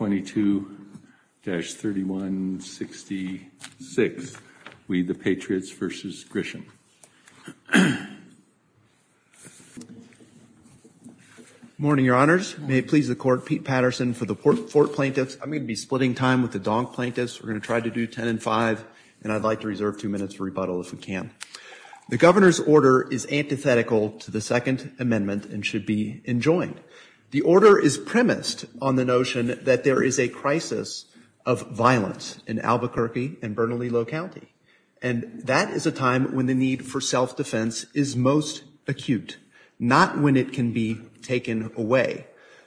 Morning, Your Honors. May it please the Court, Pete Patterson for the Fort Plaintiffs. I'm going to be splitting time with the Donk Plaintiffs. We're going to try to do 10 and 5, and I'd like to reserve two minutes for rebuttal if we can. The Governor's order is antithetical to the Second Amendment and should be enjoined. The order is premised on the notion that there is a crisis of violence in Albuquerque and Bernalillo County, and that is a time when the need for self-defense is most acute, not when it can be taken away.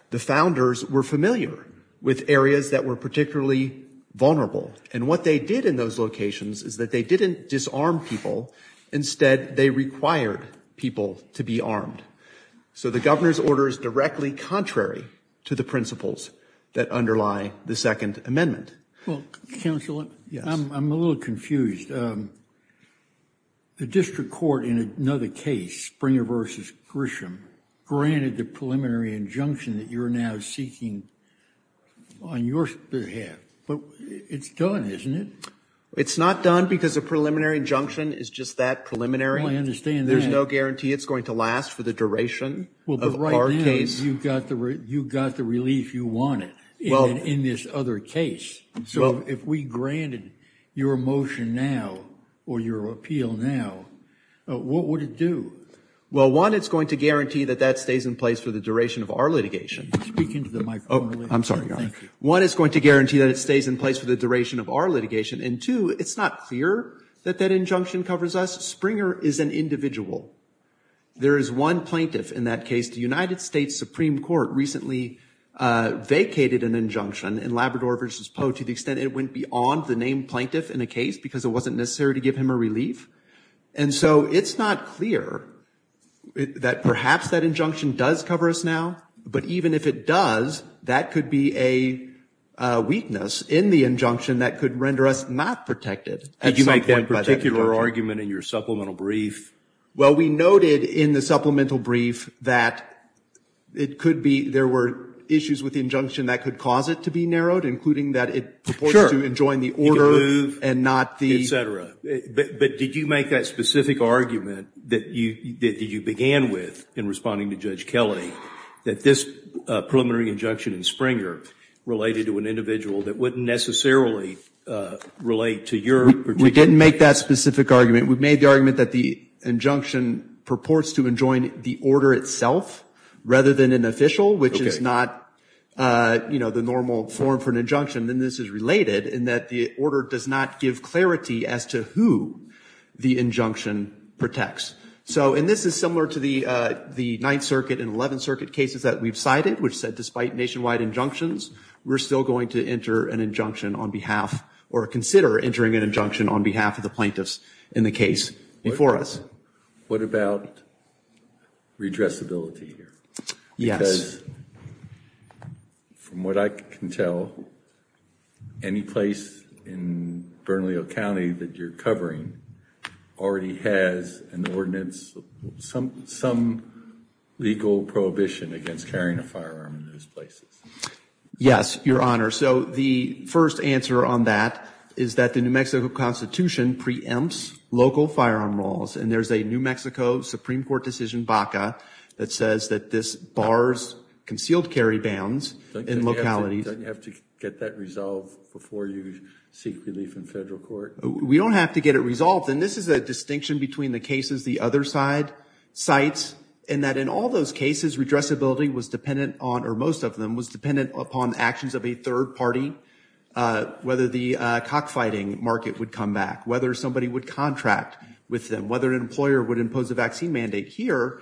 The Founders were familiar with areas that were particularly vulnerable, and what they did in those locations is that they didn't disarm people. Instead, they required people to be armed. So the Governor's order is directly contrary to the principles that underlie the Second Amendment. Well, Counselor, I'm a little confused. The District Court in another case, Springer v. Grisham, granted the preliminary injunction that you're now seeking on your behalf, but it's done, isn't it? It's not done because a preliminary injunction is just that, preliminary. Oh, I understand that. There's no guarantee it's going to last for the duration of our case. Well, but right now, you've got the relief you wanted in this other case. So if we granted your motion now, or your appeal now, what would it do? Well, one, it's going to guarantee that that stays in place for the duration of our litigation. Speak into the microphone a little bit. Oh, I'm sorry, Your Honor. Thank you. One, it's going to guarantee that it stays in place for the duration of our litigation. And two, it's not clear that that injunction covers us. Springer is an individual. There is one plaintiff in that case. The United States Supreme Court recently vacated an injunction in Labrador v. Poe to the extent it went beyond the named plaintiff in a case because it wasn't necessary to give him a relief. And so it's not clear that perhaps that injunction does cover us now. But even if it does, that could be a weakness in the injunction that could render us not protected at some point by that injunction. Did you make that particular argument in your supplemental brief? Well, we noted in the supplemental brief that it could be, there were issues with the injunction that could cause it to be narrowed, including that it purports to enjoin the order and not the... Sure. You can move, et cetera. But did you make that specific argument that you began with in responding to Judge Kelly that this preliminary injunction in Springer related to an individual that wouldn't necessarily relate to your particular... We didn't make that specific argument. We made the argument that the injunction purports to enjoin the order itself rather than an official, which is not, you know, the normal form for an injunction. And this is related in that the order does not give clarity as to who the injunction protects. So, and this is similar to the Ninth Circuit and Eleventh Circuit cases that we've cited, which said despite nationwide injunctions, we're still going to enter an injunction on behalf or consider entering an injunction on behalf of the plaintiffs in the case before us. What about redressability here? Yes. Because from what I can tell, any place in Bernalillo County that you're covering already has an ordinance, some legal prohibition against carrying a firearm in those places. Yes, Your Honor. So the first answer on that is that the New Mexico Constitution preempts local firearm laws. And there's a New Mexico Supreme Court decision, BACA, that says that this bars concealed carry bans in localities. Don't you have to get that resolved before you seek relief in federal court? We don't have to get it resolved. And this is a distinction between the cases the other side cites, in that in all those cases, redressability was dependent on, or most of them, was dependent upon actions of a third party, whether the cockfighting market would come back, whether somebody would contract with them, whether an employer would impose a vaccine mandate here.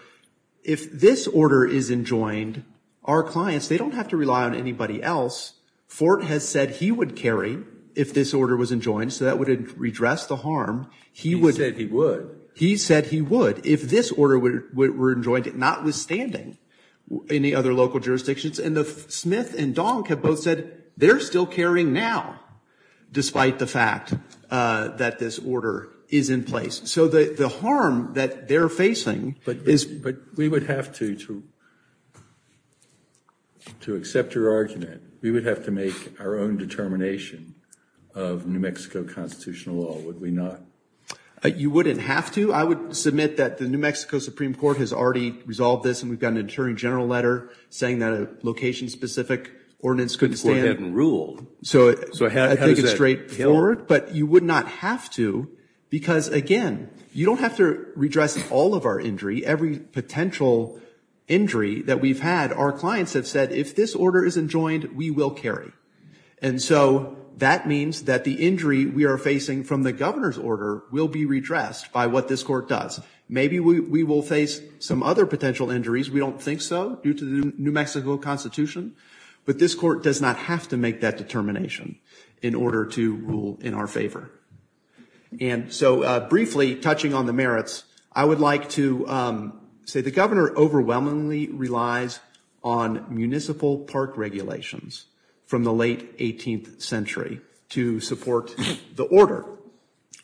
If this order is enjoined, our clients, they don't have to rely on anybody else. Fort has said he would carry if this order was enjoined, so that would redress the harm. He would. He said he would. He said he would, if this order were enjoined, notwithstanding any other local jurisdictions. And Smith and Donk have both said they're still carrying now, despite the fact that this order is in place. So the harm that they're facing is... But we would have to, to accept your argument, we would have to make our own determination of New Mexico constitutional law, would we not? You wouldn't have to. I would submit that the New Mexico Supreme Court has already resolved this, and we've got an attorney general letter saying that a location-specific ordinance couldn't stand. The court hadn't ruled. So I think it's straightforward. But you would not have to, because again, you don't have to redress all of our injury, every potential injury that we've had, our clients have said, if this order is enjoined, we will carry. And so that means that the injury we are facing from the governor's order will be redressed by what this court does. Maybe we will face some other potential injuries. We don't think so, due to the New Mexico constitution. But this court does not have to make that determination in order to rule in our favor. And so briefly, touching on the merits, I would like to say the governor overwhelmingly relies on municipal park regulations from the late 18th century to support the order.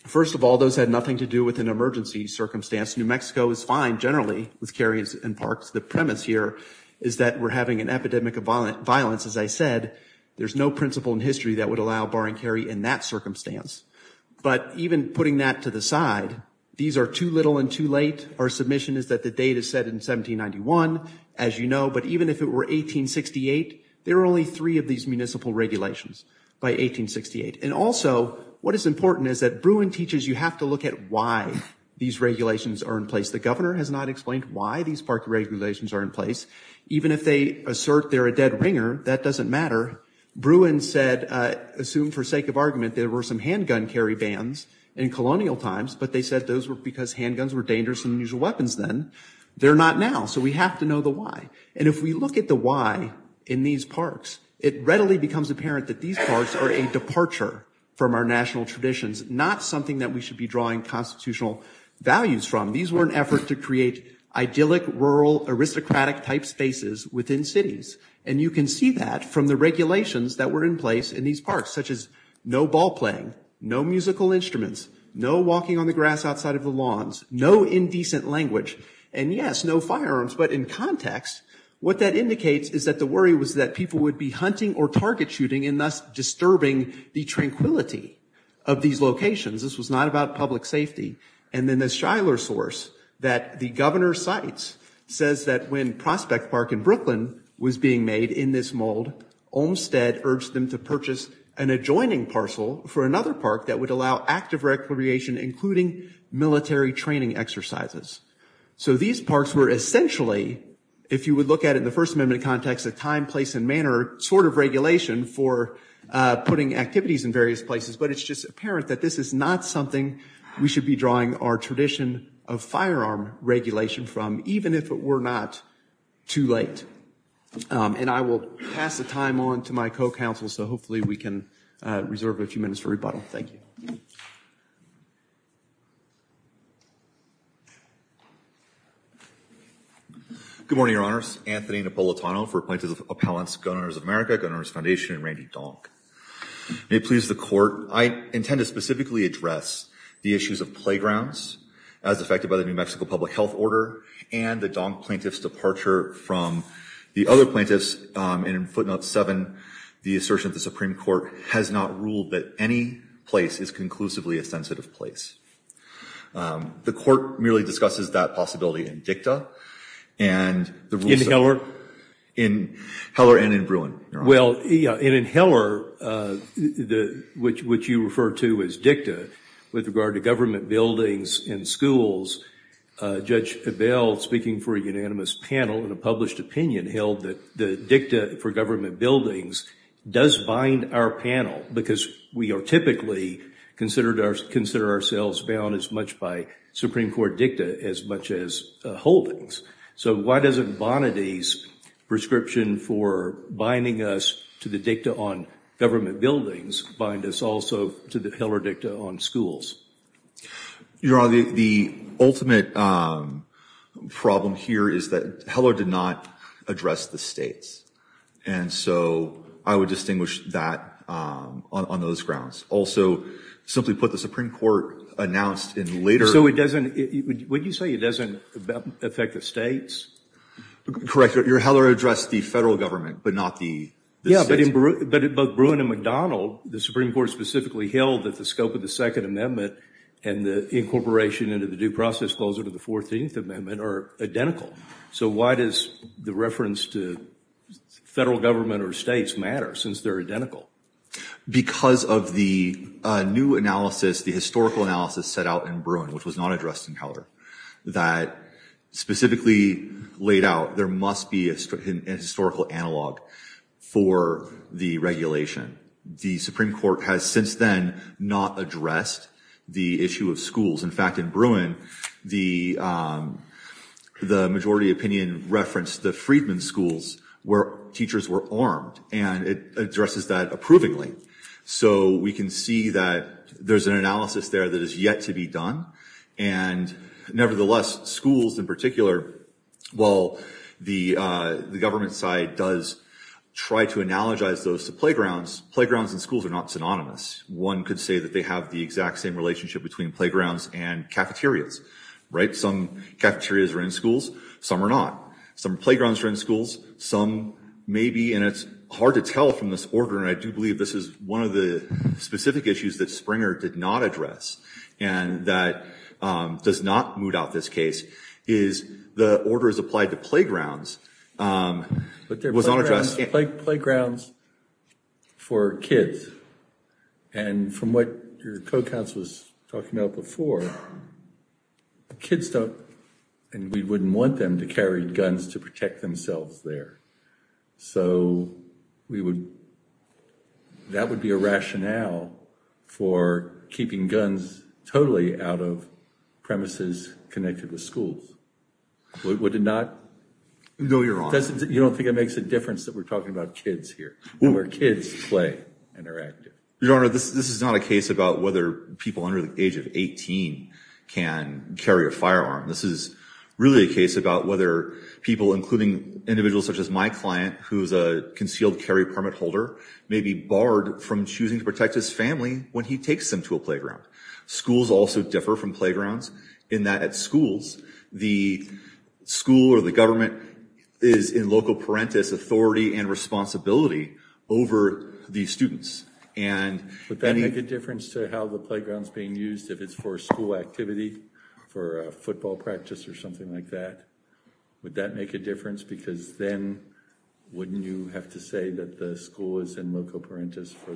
First of all, those had nothing to do with an emergency circumstance. New Mexico is fine generally with areas and parks. The premise here is that we're having an epidemic of violence. As I said, there's no principle in history that would allow bar and carry in that circumstance. But even putting that to the side, these are too little and too late. Our submission is that the date is set in 1791, as you know, but even if it were 1868, there are only three of these municipal regulations by 1868. And also, what is important is that Bruin teaches you have to look at why these regulations are in place. The governor has not explained why these park regulations are in place. Even if they assert they're a dead ringer, that doesn't matter. Bruin said, assumed for sake of argument, there were some handgun carry bans in colonial times, but they said those were because handguns were dangerous than usual weapons then. They're not now. So we have to know the why. And if we look at the why in these parks, it readily becomes apparent that these parks are a departure from our national traditions, not something that we should be drawing constitutional values from. These were an effort to create idyllic, rural, aristocratic type spaces within cities. And you can see that from the regulations that were in place in these parks, such as no ball playing, no musical instruments, no walking on the grass outside of the lawns, no indecent language, and yes, no firearms. But in context, what that indicates is that the worry was that people would be hunting or target shooting and thus disturbing the tranquility of these locations. This was not about public safety. And then the Shiler source that the governor cites says that when Prospect Park in Brooklyn was being made in this mold, Olmstead urged them to purchase an adjoining parcel for another park that would allow active recreation, including military training exercises. So these parks were essentially, if you would look at it in the First Amendment context, a time, place, and manner sort of regulation for putting activities in various places. But it's just apparent that this is not something we should be drawing our tradition of firearm regulation from, even if it were not too late. And I will pass the time on to my co-counsel, so hopefully we can reserve a few minutes for rebuttal. Thank you. Good morning, Your Honors. Anthony Napolitano for Appellants Gun Owners of America, Gun Owners Foundation, and Randy Donk. May it please the Court, I intend to specifically address the issues of playgrounds as affected by the New Mexico Public Health Order and the Donk plaintiff's departure from the other plaintiffs. And in footnote 7, the assertion of the Supreme Court has not ruled that any place is conclusively a sensitive place. The Court merely discusses that possibility in dicta, and the rules of the court. In Heller? In Heller and in Bruin, Your Honors. Well, yeah, and in Heller, which you refer to as dicta, with regard to government buildings and schools, Judge Abell, speaking for a unanimous panel in a published opinion, held that the dicta for government buildings does bind our panel, because we are typically considered ourselves bound as much by Supreme Court dicta as much as holdings. So why doesn't Bonady's prescription for binding us to the dicta on government buildings bind us also to the Heller dicta on schools? Your Honor, the ultimate problem here is that Heller did not address the states, and so I would distinguish that on those grounds. Also, simply put, the Supreme Court announced in later... So it doesn't, would you say it doesn't affect the states? Correct, Your Honor, Heller addressed the federal government, but not the states. Yeah, but in both Bruin and McDonald, the Supreme Court specifically held that the scope of the Second Amendment and the incorporation into the due process closure to the Fourteenth Amendment are identical. So why does the reference to federal government or states matter since they're identical? Because of the new analysis, the historical analysis set out in Bruin, which was not addressed in Heller, that specifically laid out there must be a historical analog for the regulation. The Supreme Court has since then not addressed the issue of schools. In fact, in Bruin, the majority opinion referenced the Friedman schools where teachers were armed, and it addresses that approvingly. So we can see that there's an analysis there that is yet to be done, and nevertheless, schools in particular, while the government side does try to analogize those to playgrounds, playgrounds and schools are not synonymous. One could say that they have the exact same relationship between playgrounds and cafeterias, right? Some cafeterias are in schools, some are not. Some playgrounds are in schools, some may be, and it's hard to tell from this order, and I do believe this is one of the specific issues that Springer did not address, and that does not moot out this case, is the order is applied to playgrounds. But playgrounds for kids, and from what your co-counsel was talking about before, kids don't, and we wouldn't want them to carry guns to protect themselves there. So we would, that would be a rationale for keeping guns totally out of premises connected with schools. Would it not? No, you're wrong. You don't think it makes a difference that we're talking about kids here, where kids play and are active? Your Honor, this is not a case about whether people under the age of 18 can carry a firearm. This is really a case about whether people, including individuals such as my client, who's a concealed carry permit holder, may be barred from choosing to protect his family when he takes them to a playground. Schools also differ from playgrounds in that at schools, the school or the government is in loco parentis authority and responsibility over the students. Would that make a difference to how the playground is being used if it's for school activity, for a football practice or something like that? Would that make a difference? Because then wouldn't you have to say that the school is in loco parentis for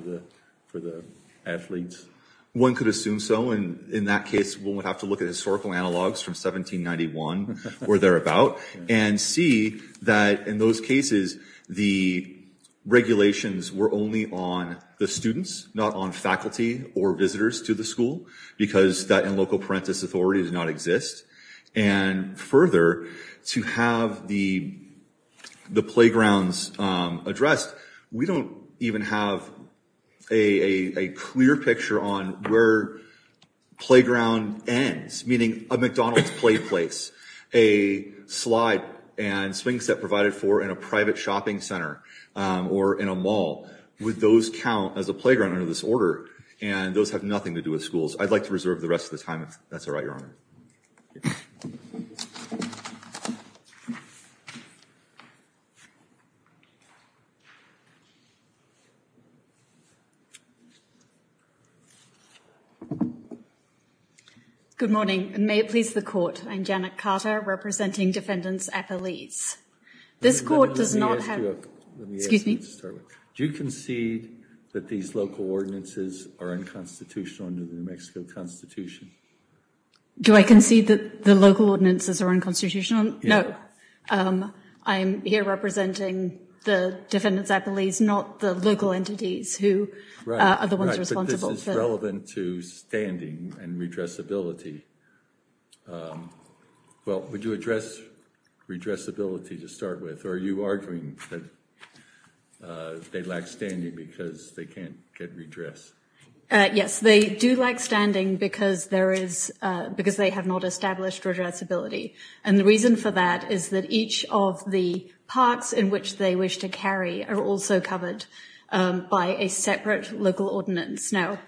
the athletes? One could assume so, and in that case we would have to look at historical analogs from 1791 where they're about and see that in those cases the regulations were only on the students, not on faculty or visitors to the school, because that in loco parentis authority does not exist. And further, to have the playgrounds addressed, we don't even have a clear picture on where playground ends, meaning a McDonald's play place, a slide and swing set provided for in a private shopping center or in a mall. Would those count as a playground under this order? And those have nothing to do with schools. I'd like to reserve the rest of the time if that's all right, Your Honor. Good morning, and may it please the Court, I'm Janet Carter representing Defendants Appellees. This Court does not have... Excuse me? Do you concede that these local ordinances are unconstitutional under the New Mexico Constitution? Do I concede that the local ordinances are unconstitutional? No. I'm here representing the Defendants Appellees, not the local entities who are the ones responsible. Right, but this is relevant to standing and redressability. Well, would you address redressability to start with, or are you arguing that they lack standing because they can't get redress? Yes, they do lack standing because they have not established redressability. And the reason for that is that each of the parts in which they wish to carry are also covered by a separate local ordinance. Now,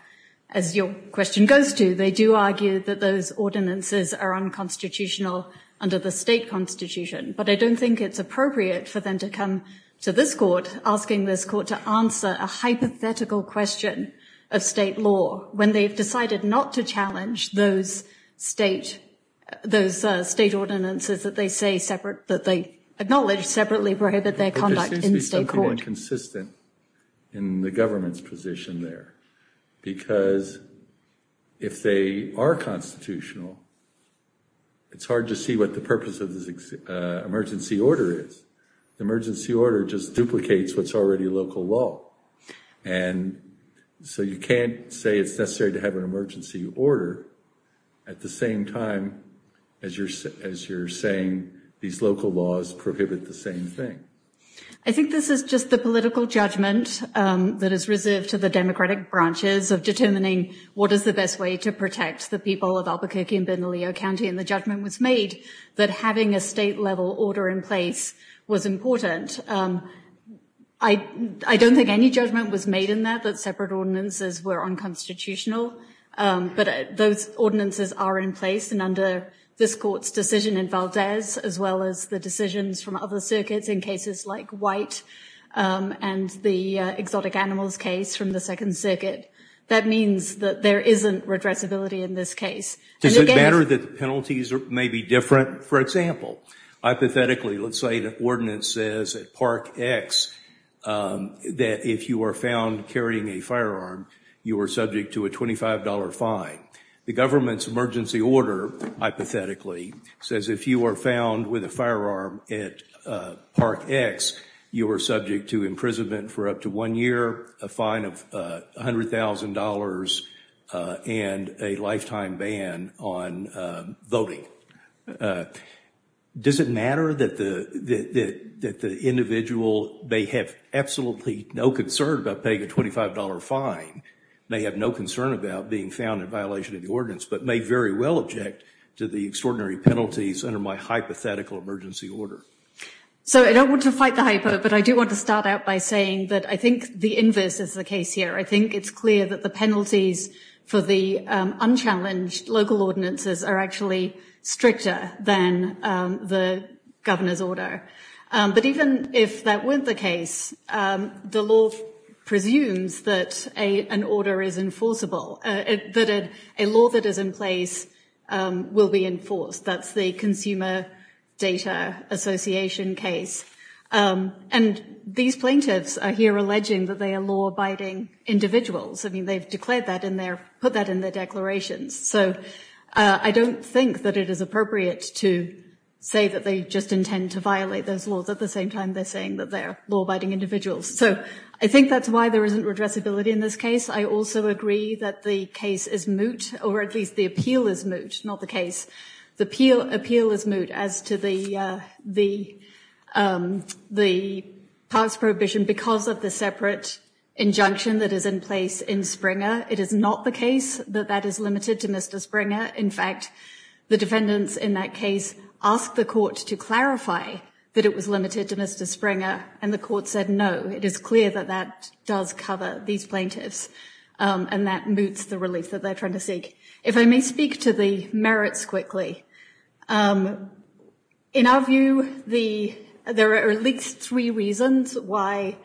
as your question goes to, they do argue that those ordinances are unconstitutional under the state constitution, but I don't think it's appropriate for them to come to this Court asking this Court to answer a hypothetical question of state law when they've decided not to challenge those state ordinances that they say separate, that they acknowledge separately prohibit their conduct in state court. There seems to be something inconsistent in the government's position there, because if they are constitutional, it's hard to see what the purpose of this emergency order is. Emergency order just duplicates what's already local law. And so you can't say it's necessary to have an emergency order at the same time as you're saying these local laws prohibit the same thing. I think this is just the political judgment that is reserved to the Democratic branches of determining what is the best way to protect the people of Albuquerque and Benalio County. And the judgment was made that having a state-level order in place was important. I don't think any judgment was made in that, that separate ordinances were unconstitutional. But those ordinances are in place, and under this Court's decision in Valdez, as well as the decisions from other circuits in cases like White and the exotic animals case from the Second Circuit, that means that there isn't redressability in this case. Does it matter that the penalties may be different? For example, hypothetically, let's say the ordinance says at Park X that if you are found carrying a firearm, you are subject to a $25 fine. The government's emergency order, hypothetically, says if you are found with a firearm at Park X, you are subject to imprisonment for up to one year, a fine of $100,000, and a lifetime ban on voting. Does it matter that the individual may have absolutely no concern about paying a $25 fine, may have no concern about being found in violation of the ordinance, but may very well object to the extraordinary penalties under my hypothetical emergency order? So I don't want to fight the hypo, but I do want to start out by saying that I think the inverse is the case here. I think it's clear that the penalties for the unchallenged local ordinances are actually stricter than the governor's order. But even if that weren't the case, the law presumes that an order is enforceable, that a law that is in place will be enforced. That's the Consumer Data Association case. And these plaintiffs are here alleging that they are law-abiding individuals. I mean, they've declared that in their, put that in their declarations. So I don't think that it is appropriate to say that they just intend to violate those laws at the same time they're saying that they're law-abiding individuals. So I think that's why there isn't redressability in this case. I also agree that the case is moot, or at least the appeal is moot, not the case. The appeal is moot as to the powers prohibition because of the separate injunction that is in place in Springer. It is not the case that that is limited to Mr. Springer. In fact, the defendants in that case asked the court to clarify that it was limited to Mr. Springer. And the court said, no, it is clear that that does cover these plaintiffs. And that moots the relief that they're trying to seek. If I may speak to the merits quickly. In our view, there are at least three reasons why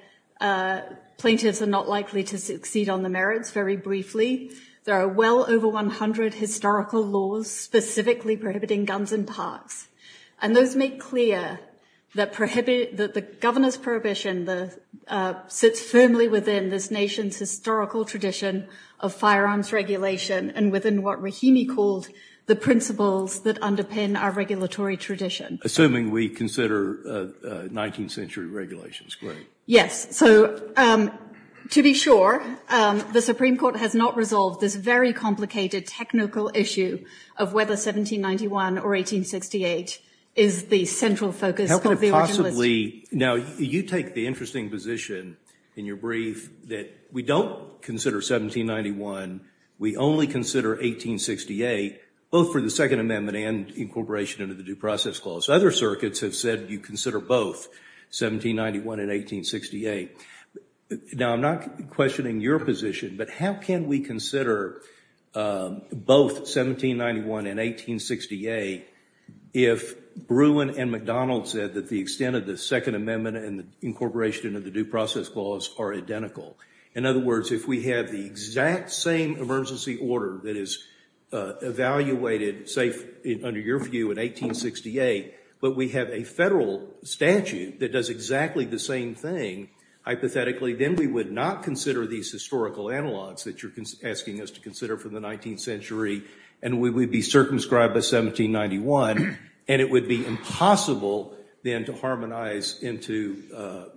plaintiffs are not likely to succeed on the merits. Very briefly, there are well over 100 historical laws specifically prohibiting guns in parks. And those make clear that the governor's prohibition sits firmly within this nation's historical tradition of firearms regulation and within what Rahimi called the principles that underpin our regulatory tradition. Assuming we consider 19th century regulations, correct? Yes. So to be sure, the Supreme Court has not resolved this very complicated technical issue of whether 1791 or 1868 is the central focus of the originalism. How could it possibly? Now, you take the interesting position in your brief that we don't consider 1791. We only consider 1868, both for the Second Amendment and incorporation into the Due Process Clause. Other circuits have said you consider both 1791 and 1868. Now, I'm not questioning your position, but how can we consider both 1791 and 1868 if Bruin and McDonald said that the extent of the Second Amendment and incorporation into the Due Process Clause are identical? In other words, if we have the exact same emergency order that is evaluated, say, under your view in 1868, but we have a federal statute that does exactly the same thing, hypothetically, then we would not consider these historical analogs that you're asking us to consider for the 19th century, and we would be circumscribed by 1791, and it would be impossible then to harmonize into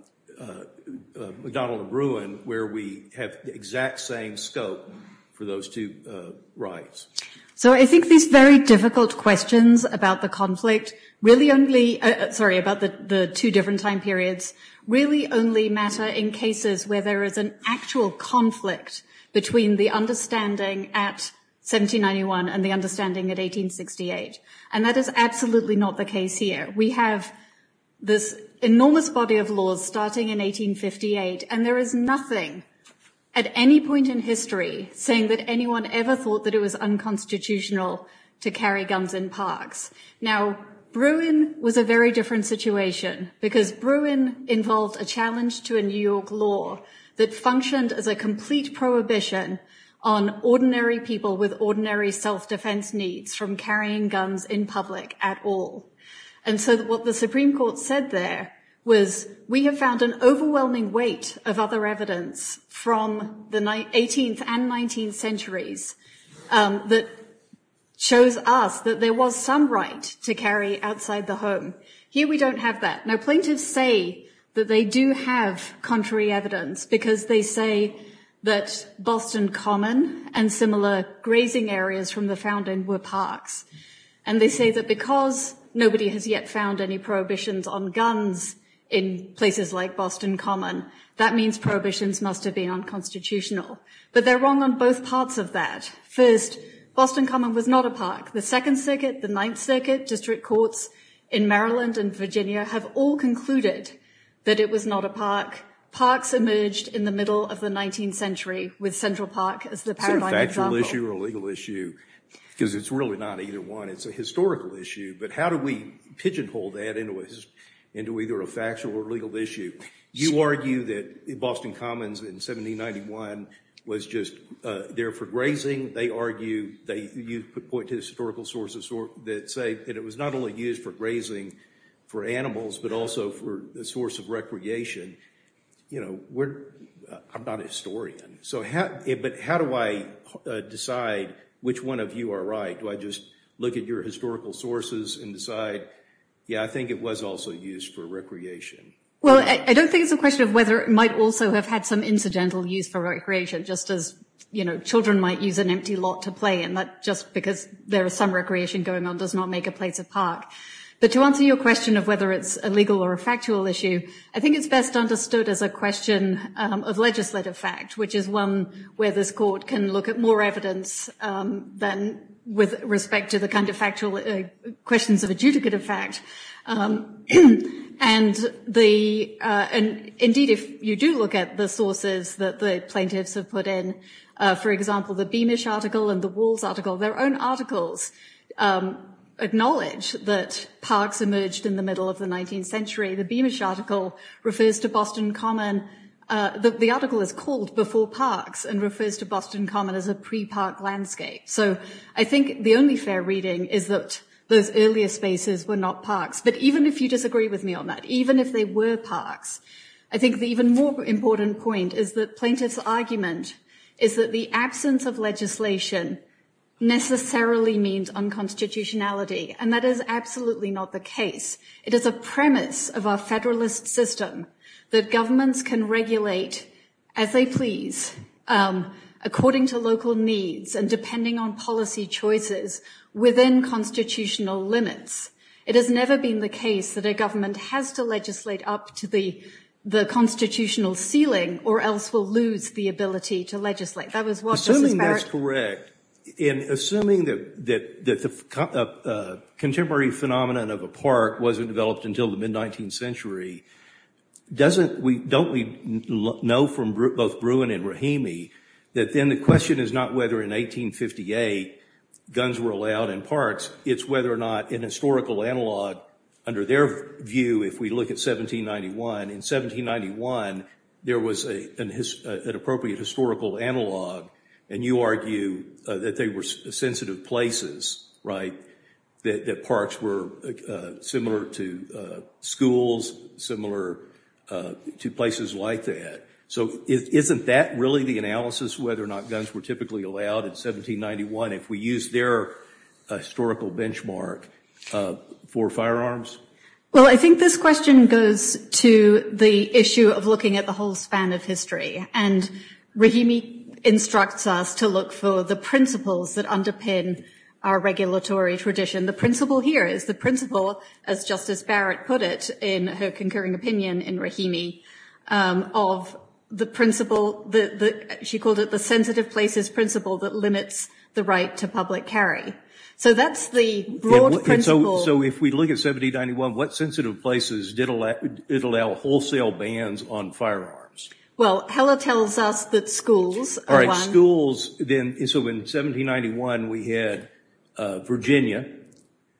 McDonald and Bruin where we have the exact same scope for those two rights. So I think these very difficult questions about the conflict really only, sorry, about the two different time periods, really only matter in cases where there is an actual conflict between the understanding at 1791 and the understanding at 1868, and that is absolutely not the case here. We have this enormous body of laws starting in 1858, and there is nothing at any point in history saying that anyone ever thought that it was unconstitutional to carry guns in parks. Now, Bruin was a very different situation because Bruin involved a challenge to a New York law that functioned as a complete prohibition on ordinary people with ordinary self-defense needs from carrying guns in public at all. And so what the Supreme Court found was that there was an overwhelming weight of other evidence from the 18th and 19th centuries that shows us that there was some right to carry outside the home. Here we don't have that. Now, plaintiffs say that they do have contrary evidence because they say that Boston Common and similar grazing areas from the Fountain were parks, and they found any prohibitions on guns in places like Boston Common. That means prohibitions must have been unconstitutional. But they're wrong on both parts of that. First, Boston Common was not a park. The Second Circuit, the Ninth Circuit, district courts in Maryland and Virginia have all concluded that it was not a park. Parks emerged in the middle of the 19th century with Central Park as the paradigm example. It's a factual issue or a legal issue, because it's really not either one. It's a historical issue. But how do we pigeonhole that into either a factual or legal issue? You argue that Boston Commons in 1791 was just there for grazing. They argue, you point to historical sources that say that it was not only used for grazing for animals, but also for a source of recreation. You know, I'm not a historian. But how do I decide which one of you are right? Do I just look at your historical sources and decide, yeah, I think it was also used for recreation? Well, I don't think it's a question of whether it might also have had some incidental use for recreation, just as, you know, children might use an empty lot to play in that just because there is some recreation going on does not make a place a park. But to answer your question of whether it's a legal or a factual issue, I think it's best understood as a question of legislative fact, which is one where this court can look at more evidence than with respect to the kind of factual questions of adjudicative fact. And indeed, if you do look at the sources that the plaintiffs have put in, for example, the Beamish article and the Walls article, their own articles acknowledge that parks emerged in the middle of the 19th century. The Beamish article refers to Boston Common. The article is called Before Parks and refers to Boston Common as a pre-park landscape. So I think the only fair reading is that those earlier spaces were not parks. But even if you disagree with me on that, even if they were parks, I think the even more important point is that plaintiff's argument is that the absence of legislation necessarily means unconstitutionality. And that is absolutely not the case. It is a premise of our federalist system that governments can regulate as they please, according to local needs and depending on policy choices within constitutional limits. It has never been the case that a government has to legislate up to the constitutional ceiling or else we'll lose the ability to legislate. That was what Mrs. Barrett- Assuming that's correct, and assuming that the contemporary phenomenon of a park wasn't developed until the mid-19th century, don't we know from both Bruin and Rahimi that then the question is not whether in 1858 guns were allowed in parks, it's whether or not in historical analog, under their view, if we look at 1791, in 1791 there was an appropriate historical analog, and you argue that they were sensitive places, right, that parks were similar to schools, similar to places like that. So isn't that really the analysis, whether or not guns were typically allowed in 1791 if we use their historical benchmark for firearms? Well, I think this question goes to the issue of looking at the whole span of history. And Rahimi instructs us to look for the principles that underpin our regulatory tradition. The principle here is the principle, as Justice Barrett put it in her concurring opinion in Rahimi, of the principle that she called it the sensitive places principle that limits the right to public carry. So that's the broad principle- So if we look at 1791, what sensitive places did allow wholesale bans on firearms? Well, Heller tells us that schools- All right, schools, then, so in 1791 we had Virginia,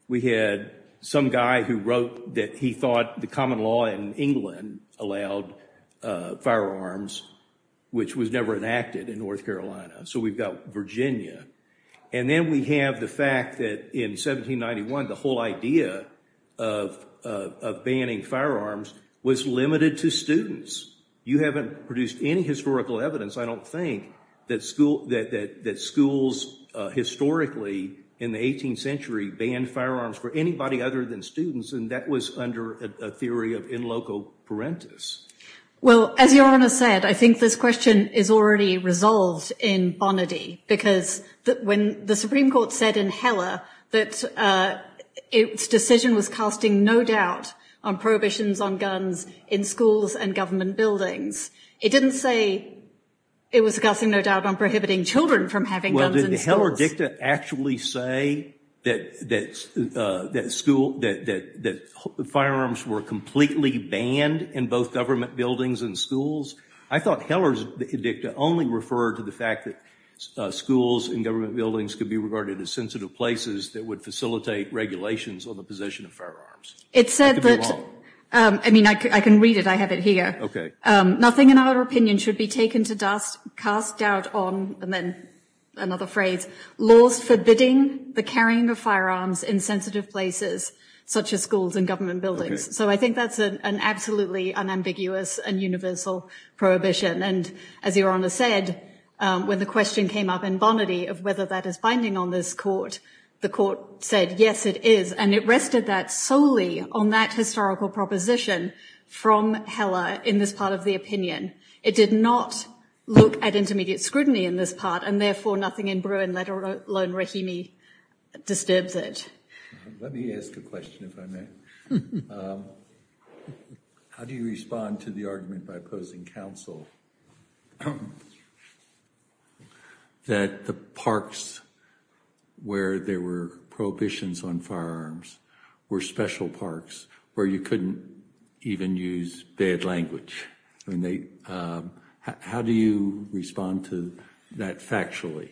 we had some guy who wrote that he thought the common law in England allowed firearms, which was never enacted in North Carolina. So we've got Virginia. And then we have the fact that in 1791 the whole idea of banning firearms was limited to students. You haven't produced any historical evidence, I don't think, that schools historically in the 18th century banned firearms for anybody other than students, and that was under a theory of in loco parentis. Well, as Your Honor said, I think this question is already resolved in Bonnerdy because when the Supreme Court said in Heller that its decision was casting no doubt on prohibitions on guns in schools and government buildings, it didn't say it was casting no doubt on prohibiting children from having guns in schools. Well, did Heller dicta actually say that firearms were completely banned in both government buildings and schools? I thought Heller's dicta only referred to the fact that schools and government buildings could be regarded as sensitive places that would facilitate regulations on the possession of firearms. It said that, I mean, I can read it. I have it here. Nothing in our opinion should be taken to dust, cast doubt on, and then another phrase, laws forbidding the carrying of firearms in sensitive places such as schools and government buildings. So I think that's an absolutely unambiguous and universal prohibition. And as Your Honor said, when the question came up in Bonnerdy of whether that is binding on this court, the court said, yes, it is. And it rested that solely on that historical proposition from Heller in this part of the opinion. It did not look at intermediate scrutiny in this part, and therefore nothing in Bruin, let alone Rahimi, disturbs it. Let me ask a question, if I may. How do you respond to the argument by opposing counsel that the parks where there were prohibitions on firearms were special parks where you couldn't even use bad language? How do you respond to that factually?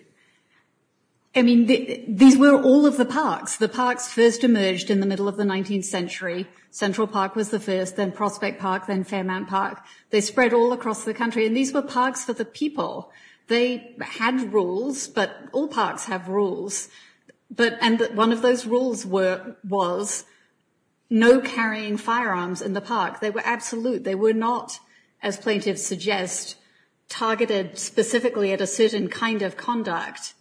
I mean, these were all of the parks. The parks first emerged in the middle of the 19th century. Central Park was the first, then Prospect Park, then Fairmount Park. They spread all across the country. And these were parks for the people. They had rules, but all parks have rules. And one of those rules was no carrying firearms in the park. They were absolute. They were not, as plaintiffs suggest, targeted specifically at a certain kind of conduct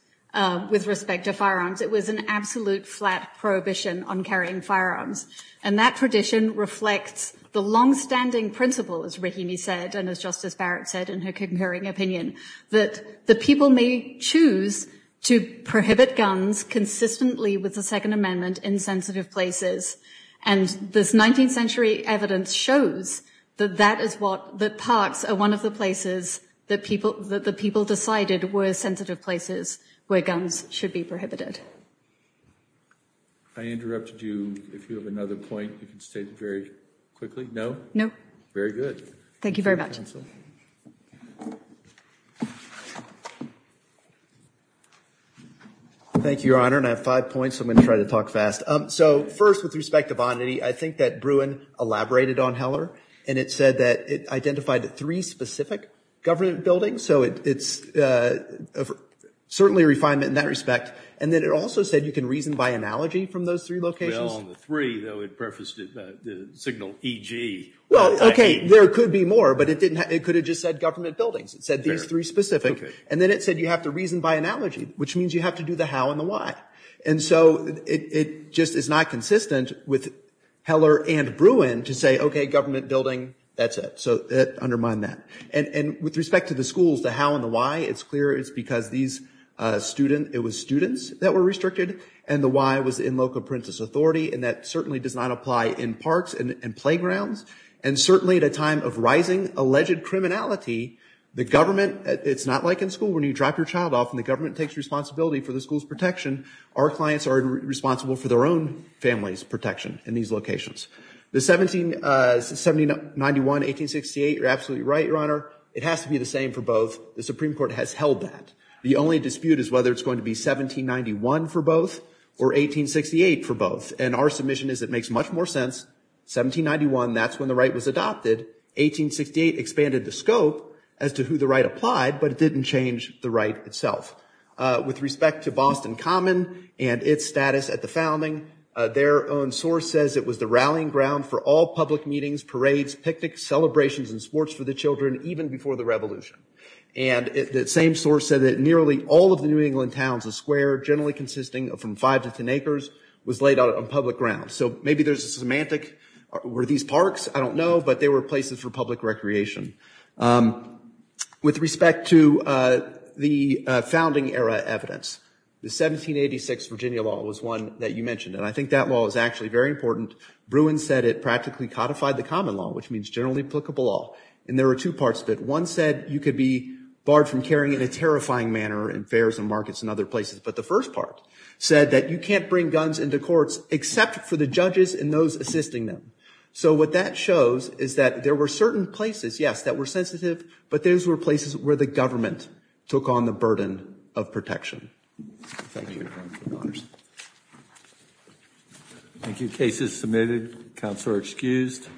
with respect to firearms. It was an absolute flat prohibition on carrying firearms. And that tradition reflects the longstanding principle, as Rahimi said, and as Justice Barrett said in her concurring opinion, that the people may choose to prohibit guns consistently with the Second Amendment in sensitive places. And this 19th century evidence shows that parks are one of the places that people decided were sensitive places where guns should be prohibited. I interrupted you. If you have another point, you can state it very quickly. No? No. Very good. Thank you very much. Thank you, Your Honor. And I have five points, so I'm going to try to talk fast. So first, with respect to Vonnity, I think that Bruin elaborated on Heller, and it said that it identified three specific government buildings. So it's certainly a refinement in that respect. And then it also said you can reason by analogy from those three locations. Well, on the three, though, it prefaced it by the signal EG. Well, okay, there could be more, but it didn't have, it could have just said government buildings. It said these three specific. And then it said you have to reason by analogy, which means you have to do the how and the why. And so it just is not consistent with Heller and Bruin to say, okay, government building, that's it. So undermine that. And with respect to the schools, the how and the why, it's clear it's because these students, it was students that were restricted, and the why was in local parental authority. And that certainly does not apply in parks and playgrounds. And certainly at a time of rising alleged criminality, the government, it's not like when you drop your child off and the government takes responsibility for the school's protection. Our clients are responsible for their own family's protection in these locations. The 1791, 1868, you're absolutely right, Your Honor. It has to be the same for both. The Supreme Court has held that. The only dispute is whether it's going to be 1791 for both or 1868 for both. And our submission is it makes much more sense. 1791, that's when the right was adopted. 1868 expanded the scope as to who the right applied, but it didn't change the right itself. With respect to Boston Common and its status at the founding, their own source says it was the rallying ground for all public meetings, parades, picnics, celebrations, and sports for the children even before the Revolution. And the same source said that nearly all of the New England towns and square, generally consisting of from five to ten acres, was laid out on public ground. So maybe there's a semantic. Were these parks? I don't know, but they were places for public recreation. With respect to the founding era evidence, the 1786 Virginia law was one that you mentioned. And I think that law is actually very important. Bruin said it practically codified the common law, which means generally applicable law. And there are two parts of it. One said you could be barred from carrying in a terrifying manner in fairs and markets and other places. But the first part said that you can't bring guns into courts except for the judges and those assisting them. So what that shows is that there were certain places, yes, were sensitive, but those were places where the government took on the burden of protection. Thank you. Cases submitted. Counselor excused.